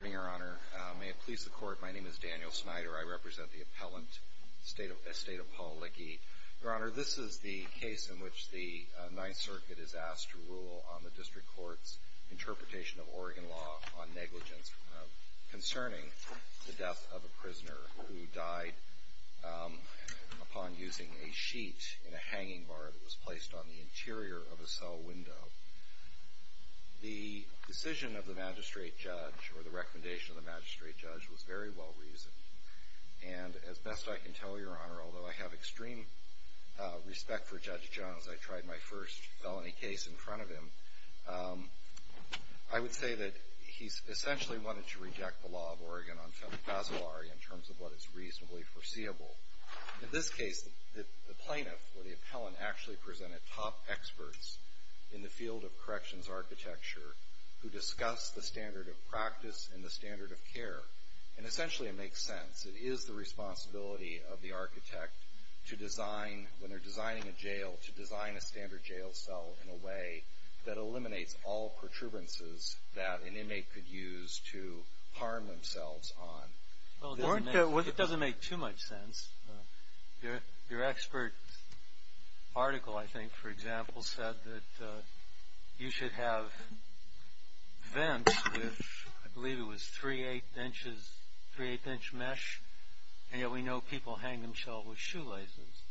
Good morning, Your Honor. May it please the Court, my name is Daniel Snyder. I represent the appellant, estate of Paul Lyche. Your Honor, this is the case in which the Ninth Circuit is asked to rule on the District Court's interpretation of Oregon law on negligence concerning the death of a prisoner who died upon using a sheet in a hanging bar that was placed on the interior of a cell window. The decision of the magistrate judge, or the recommendation of the magistrate judge, was very well reasoned. And as best I can tell, Your Honor, although I have extreme respect for Judge Jones, I tried my first felony case in front of him, I would say that he essentially wanted to reject the law of Oregon on felony casualty in terms of what is reasonably foreseeable. In this case, the plaintiff, or the appellant, actually presented top experts in the field of corrections architecture who discussed the standard of practice and the standard of care, and essentially it makes sense. It is the responsibility of the architect to design, when they're designing a jail, to design a standard jail cell in a way that eliminates all protuberances that an inmate could use to harm themselves on. It doesn't make too much sense. Your expert article, I think, for example, said that you should have vents with, I believe it was 3-8 inch mesh, and yet we know people hang themselves with shoelaces.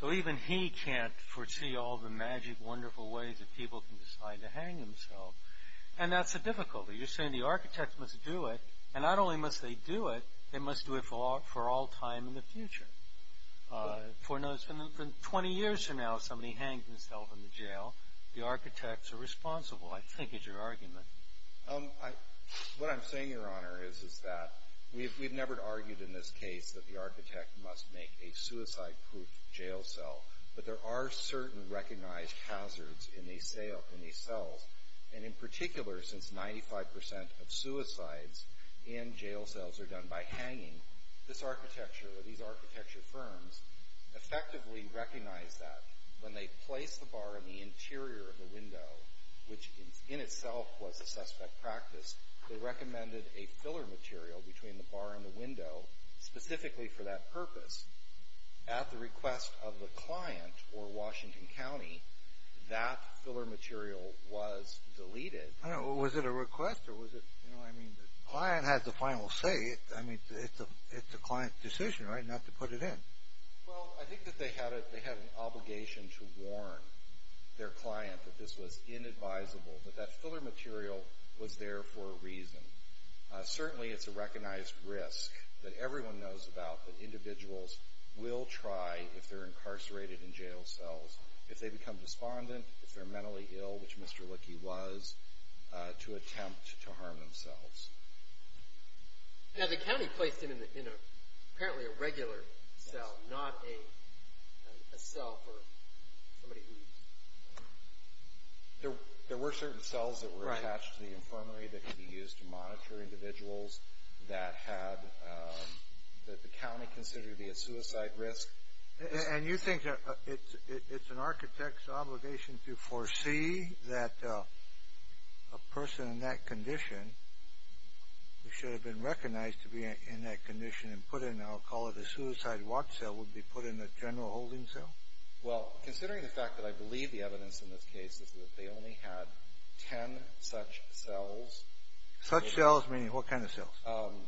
So even he can't foresee all the magic, wonderful ways that people can decide to hang themselves. And that's the difficulty. You're saying the architect must do it, and not only must they do it, they must do it for all time in the future. For 20 years from now, if somebody hangs himself in the jail, the architects are responsible, I think, is your argument. What I'm saying, Your Honor, is that we've never argued in this case that the architect must make a suicide-proof jail cell, but there are certain recognized hazards in these cells. And in particular, since 95% of suicides in jail cells are done by hanging, this architecture or these architecture firms effectively recognize that. When they place the bar in the interior of the window, which in itself was a suspect practice, they recommended a filler material between the bar and the window specifically for that purpose. At the request of the client, or Washington County, that filler material was deleted. I don't know. Was it a request, or was it, you know, I mean, the client had the final say. I mean, it's the client's decision, right, not to put it in. Well, I think that they had an obligation to warn their client that this was inadvisable, Certainly, it's a recognized risk that everyone knows about that individuals will try, if they're incarcerated in jail cells, if they become despondent, if they're mentally ill, which Mr. Lickey was, to attempt to harm themselves. Now, the county placed it in apparently a regular cell, not a cell for somebody who... There were certain cells that were attached to the infirmary that could be used to monitor individuals that the county considered to be a suicide risk. And you think that it's an architect's obligation to foresee that a person in that condition, who should have been recognized to be in that condition and put in, I'll call it a suicide watch cell, would be put in a general holding cell? Well, considering the fact that I believe the evidence in this case is that they only had 10 such cells. Such cells meaning what kind of cells?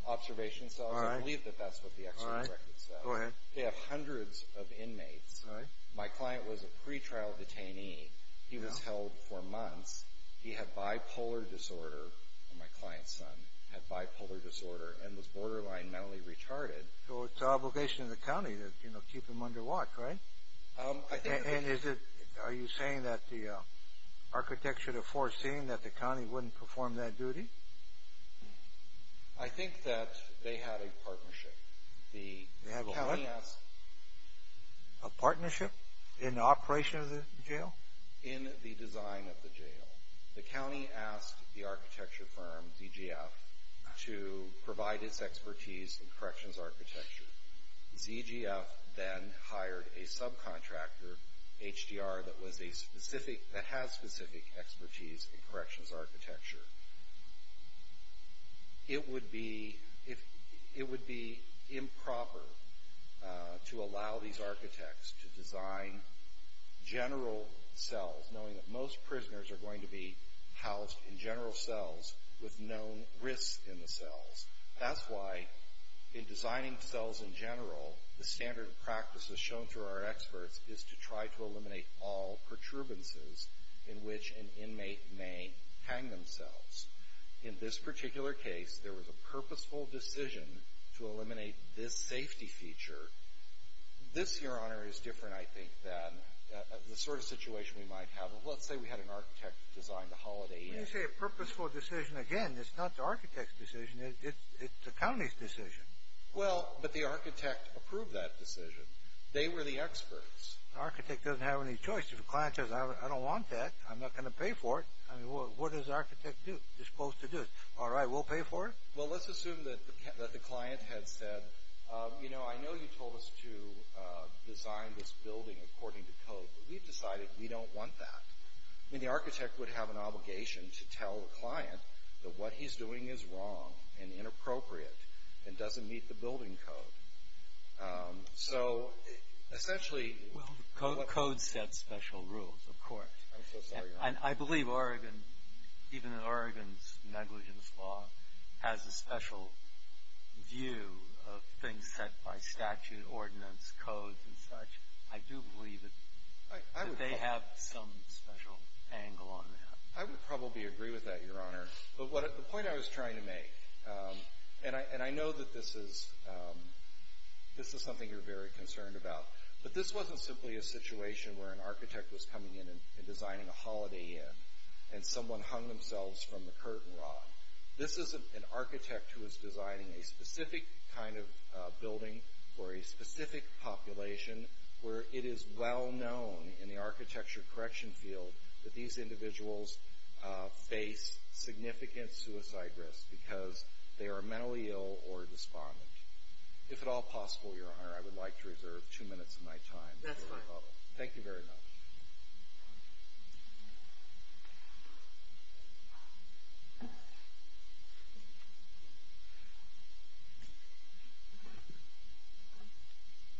Observation cells. All right. I believe that that's what the expert record says. All right. Go ahead. They have hundreds of inmates. All right. My client was a pretrial detainee. He was held for months. He had bipolar disorder, my client's son, had bipolar disorder and was borderline mentally retarded. So it's an obligation to the county to keep him under watch, right? And are you saying that the architect should have foreseen that the county wouldn't perform that duty? I think that they had a partnership. They had what? A partnership in the operation of the jail? In the design of the jail. The county asked the architecture firm, ZGF, to provide its expertise in corrections architecture. ZGF then hired a subcontractor, HDR, that has specific expertise in corrections architecture. It would be improper to allow these architects to design general cells, knowing that most prisoners are going to be housed in general cells with known risks in the cells. That's why in designing cells in general, the standard of practice, as shown through our experts, is to try to eliminate all perturbances in which an inmate may hang themselves. In this particular case, there was a purposeful decision to eliminate this safety feature. This, Your Honor, is different, I think, than the sort of situation we might have. Let's say we had an architect design the Holiday Inn. When you say a purposeful decision, again, it's not the architect's decision. It's the county's decision. Well, but the architect approved that decision. They were the experts. The architect doesn't have any choice. If a client says, I don't want that, I'm not going to pay for it. What does the architect do? He's supposed to do it. All right, we'll pay for it? Well, let's assume that the client had said, you know, I know you told us to design this building according to code, but we've decided we don't want that. I mean, the architect would have an obligation to tell the client that what he's doing is wrong and inappropriate and doesn't meet the building code. So, essentially – Well, the code sets special rules, of course. I'm so sorry, Your Honor. I believe Oregon, even in Oregon's negligence law, has a special view of things set by statute, ordinance, codes and such. I do believe that they have some special angle on that. I would probably agree with that, Your Honor. But the point I was trying to make, and I know that this is something you're very concerned about, but this wasn't simply a situation where an architect was coming in and designing a holiday inn and someone hung themselves from the curtain rod. This is an architect who is designing a specific kind of building for a specific population where it is well known in the architecture correction field that these individuals face significant suicide risk because they are mentally ill or despondent. If at all possible, Your Honor, I would like to reserve two minutes of my time. That's fine. Thank you very much.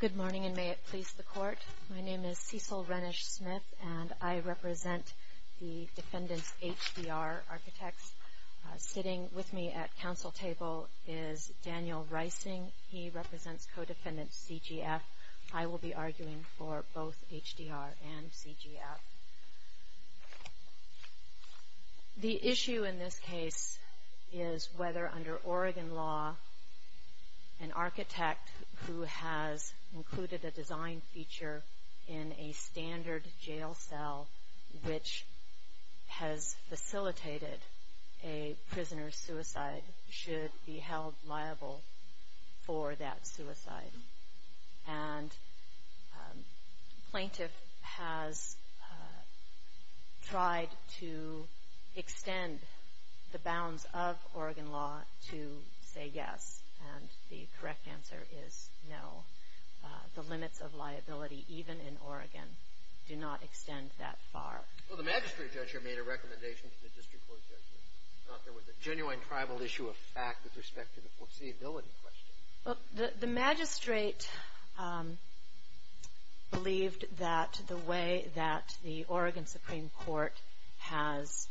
Good morning, and may it please the Court. My name is Cecil Renish Smith, and I represent the defendants' HDR architects. Sitting with me at counsel table is Daniel Reising. He represents co-defendant CGF. I will be arguing for both HDR and CGF. The issue in this case is whether under Oregon law, an architect who has included a design feature in a standard jail cell which has facilitated a prisoner's suicide should be held liable for that suicide. And the plaintiff has tried to extend the bounds of Oregon law to say yes, and the correct answer is no. The limits of liability, even in Oregon, do not extend that far. Well, the magistrate judge here made a recommendation to the district court judge that there was a genuine tribal issue of fact with respect to the foreseeability question. The magistrate believed that the way that the Oregon Supreme Court has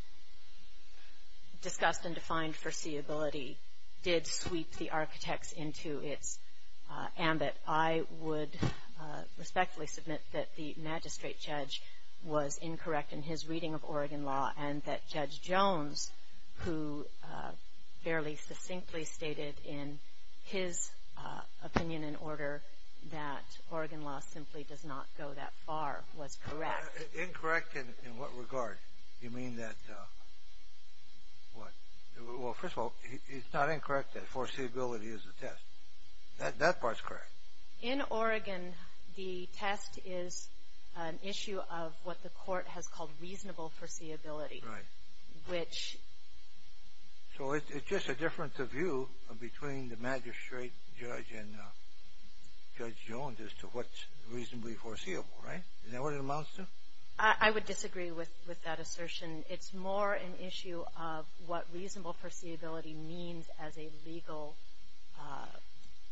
discussed and defined foreseeability did sweep the architects into its ambit. I would respectfully submit that the magistrate judge was incorrect in his reading of Oregon law and that Judge Jones, who fairly succinctly stated in his opinion and order that Oregon law simply does not go that far, was correct. Incorrect in what regard? You mean that, what? Well, first of all, it's not incorrect that foreseeability is a test. That part's correct. In Oregon, the test is an issue of what the court has called reasonable foreseeability. Right. Which... So it's just a difference of view between the magistrate judge and Judge Jones as to what's reasonably foreseeable, right? Is that what it amounts to? I would disagree with that assertion. It's more an issue of what reasonable foreseeability means as a legal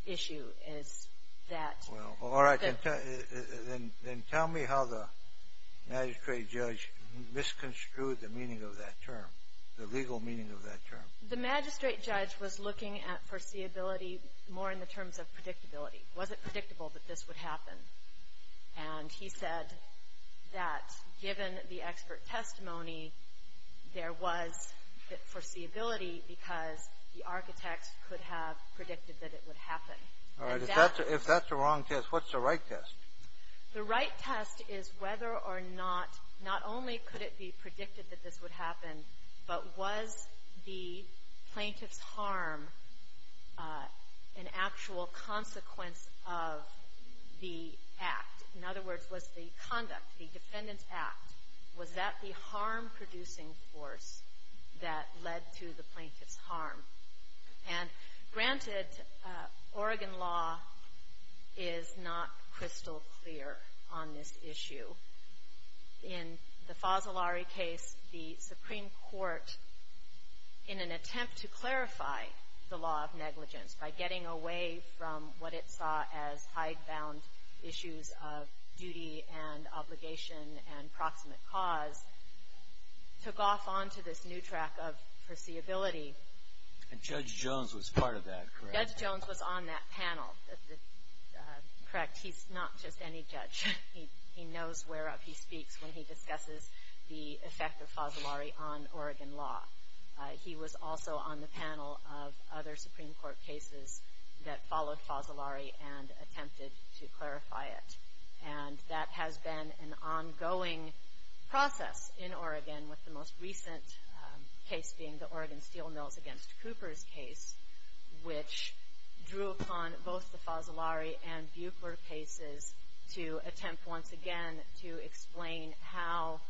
issue is that... Well, all right. Then tell me how the magistrate judge misconstrued the meaning of that term, the legal meaning of that term. The magistrate judge was looking at foreseeability more in the terms of predictability. Was it predictable that this would happen? And he said that given the expert testimony, there was foreseeability because the architects could have predicted that it would happen. All right. If that's a wrong test, what's the right test? The right test is whether or not, not only could it be predicted that this would happen, but was the plaintiff's harm an actual consequence of the act? In other words, was the conduct, the defendant's act, was that the harm-producing force that led to the plaintiff's harm? And granted, Oregon law is not crystal clear on this issue. In the Fasolari case, the Supreme Court, in an attempt to clarify the law of negligence by getting away from what it saw as hidebound issues of duty and obligation and proximate cause, took off onto this new track of foreseeability. And Judge Jones was part of that, correct? Judge Jones was on that panel. Correct. He's not just any judge. He knows whereupon he speaks when he discusses the effect of Fasolari on Oregon law. He was also on the panel of other Supreme Court cases that followed Fasolari and attempted to clarify it. And that has been an ongoing process in Oregon, with the most recent case being the Oregon Steel Mills against Cooper's case, which drew upon both the Fasolari and Buechler cases to attempt once again to explain how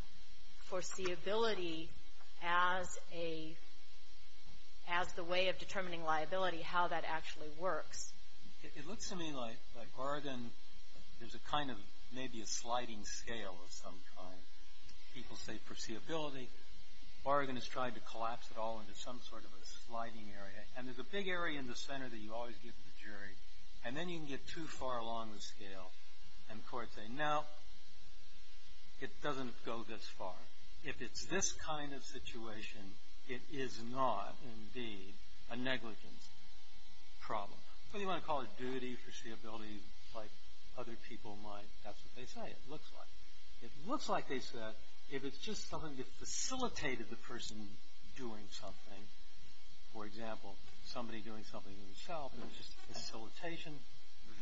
foreseeability, as a way of determining liability, how that actually works. It looks to me like Oregon, there's a kind of maybe a sliding scale of some kind. People say foreseeability. Oregon has tried to collapse it all into some sort of a sliding area. And there's a big area in the center that you always give to the jury. And then you can get too far along the scale. And courts say, no, it doesn't go this far. If it's this kind of situation, it is not, indeed, a negligence problem. What do you want to call it? Duty, foreseeability, like other people might. That's what they say it looks like. It looks like they said if it's just something that facilitated the person doing something, for example, somebody doing something to himself, and it's just facilitation,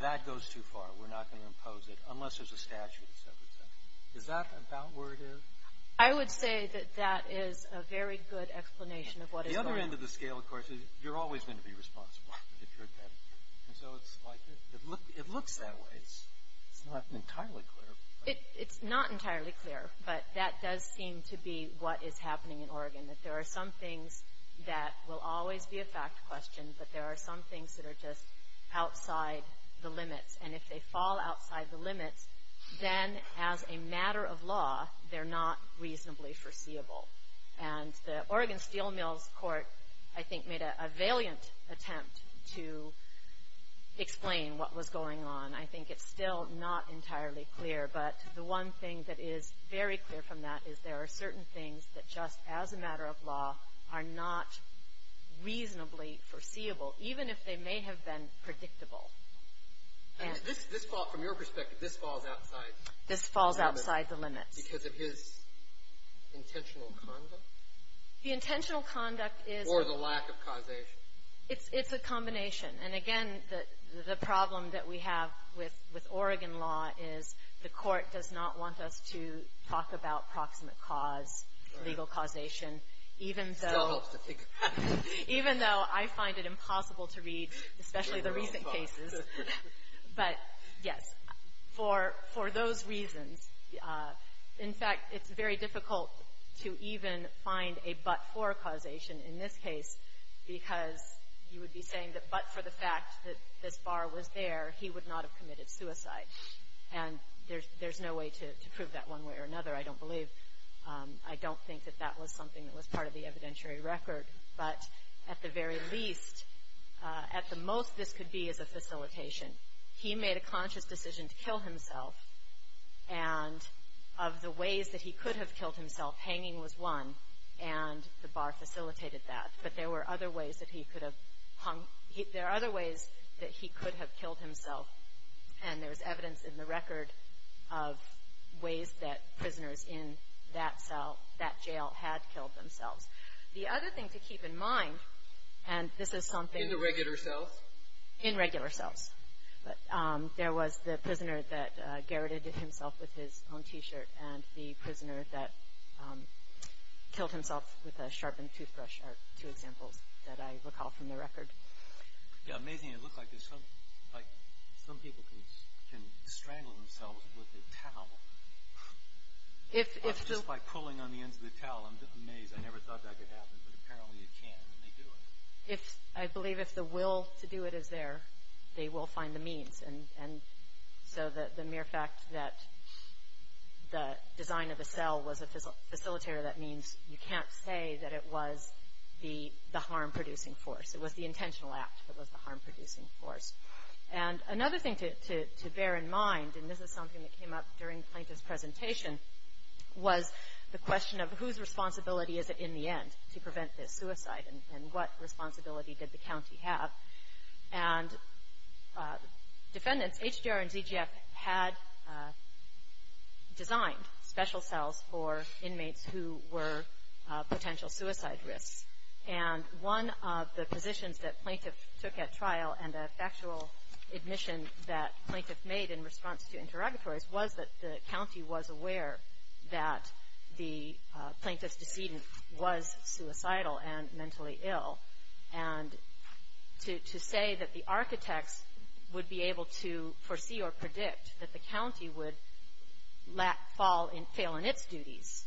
that goes too far. We're not going to impose it unless there's a statute, et cetera, et cetera. Is that about where it is? I would say that that is a very good explanation of what is going on. The other end of the scale, of course, is you're always going to be responsible if you're dead. And so it's like it looks that way. It's not entirely clear. It's not entirely clear. But that does seem to be what is happening in Oregon, that there are some things that will always be a fact question, but there are some things that are just outside the limits. And if they fall outside the limits, then as a matter of law, they're not reasonably foreseeable. And the Oregon Steel Mills Court, I think, made a valiant attempt to explain what was going on. I think it's still not entirely clear. But the one thing that is very clear from that is there are certain things that just as a matter of law are not reasonably foreseeable, even if they may have been predictable. And this fall, from your perspective, this falls outside the limits. This falls outside the limits. Because of his intentional conduct. The intentional conduct is. Or the lack of causation. It's a combination. And, again, the problem that we have with Oregon law is the court does not want us to talk about proximate cause, legal causation, even though I find it impossible to read, especially the recent cases. But, yes, for those reasons, in fact, it's very difficult to even find a but-for causation in this case, because you would be saying that but for the fact that this bar was there, he would not have committed suicide. And there's no way to prove that one way or another, I don't believe. I don't think that that was something that was part of the evidentiary record. But at the very least, at the most, this could be as a facilitation. He made a conscious decision to kill himself. And of the ways that he could have killed himself, hanging was one. And the bar facilitated that. But there were other ways that he could have hung. There are other ways that he could have killed himself. And there's evidence in the record of ways that prisoners in that cell, that jail, had killed themselves. The other thing to keep in mind, and this is something- In the regular cells? In regular cells. There was the prisoner that garroted himself with his own T-shirt, and the prisoner that killed himself with a sharpened toothbrush are two examples that I recall from the record. Yeah, amazing. It looks like some people can strangle themselves with a towel. Just by pulling on the ends of the towel. I'm amazed. I never thought that could happen, but apparently it can, and they do it. I believe if the will to do it is there, they will find the means. And so the mere fact that the design of the cell was a facilitator, that means you can't say that it was the harm-producing force. It was the intentional act that was the harm-producing force. And another thing to bear in mind, and this is something that came up during Plaintiff's presentation, was the question of whose responsibility is it in the end to prevent this suicide, and what responsibility did the county have? And defendants, HDR and ZGF, had designed special cells for inmates who were potential suicide risks. And one of the positions that Plaintiff took at trial, and a factual admission that Plaintiff made in response to interrogatories, was that the county was aware that the Plaintiff's decedent was suicidal and mentally ill. And to say that the architects would be able to foresee or predict that the county would fail in its duties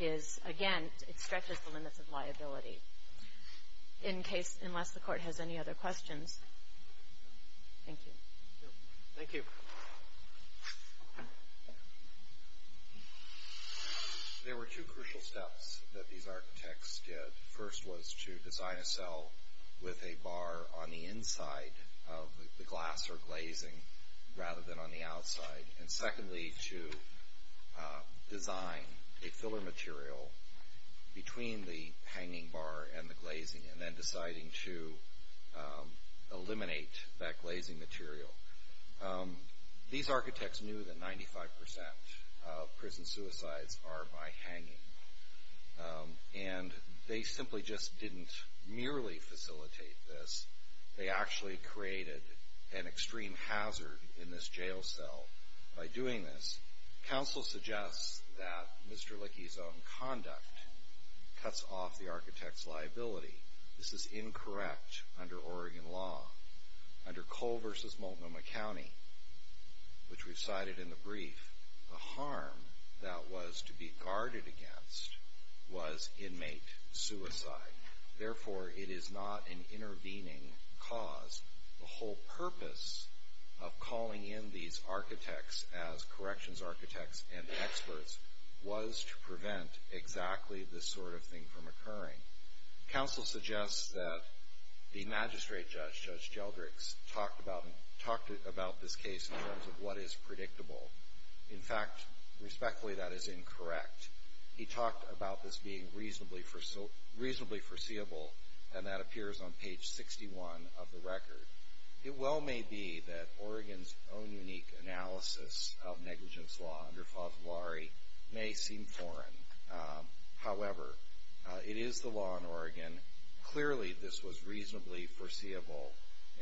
is, again, it stretches the limits of liability. In case, unless the Court has any other questions. Thank you. Thank you. There were two crucial steps that these architects did. First was to design a cell with a bar on the inside of the glass or glazing, rather than on the outside. And secondly, to design a filler material between the hanging bar and the glazing, and then deciding to eliminate that glazing material. These architects knew that 95% of prison suicides are by hanging. And they simply just didn't merely facilitate this. They actually created an extreme hazard in this jail cell by doing this. Counsel suggests that Mr. Lickey's own conduct cuts off the architect's liability. This is incorrect under Oregon law. Under Cole v. Multnomah County, which we cited in the brief, the harm that was to be guarded against was inmate suicide. Therefore, it is not an intervening cause. The whole purpose of calling in these architects as corrections architects and experts was to prevent exactly this sort of thing from occurring. Counsel suggests that the magistrate judge, Judge Jeldricks, talked about this case in terms of what is predictable. In fact, respectfully, that is incorrect. He talked about this being reasonably foreseeable, and that appears on page 61 of the record. It well may be that Oregon's own unique analysis of negligence law under Favillari may seem foreign. However, it is the law in Oregon. Clearly, this was reasonably foreseeable,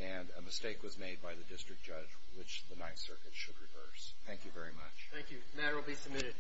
and a mistake was made by the district judge, which the Ninth Circuit should reverse. Thank you very much. Thank you. The matter will be submitted.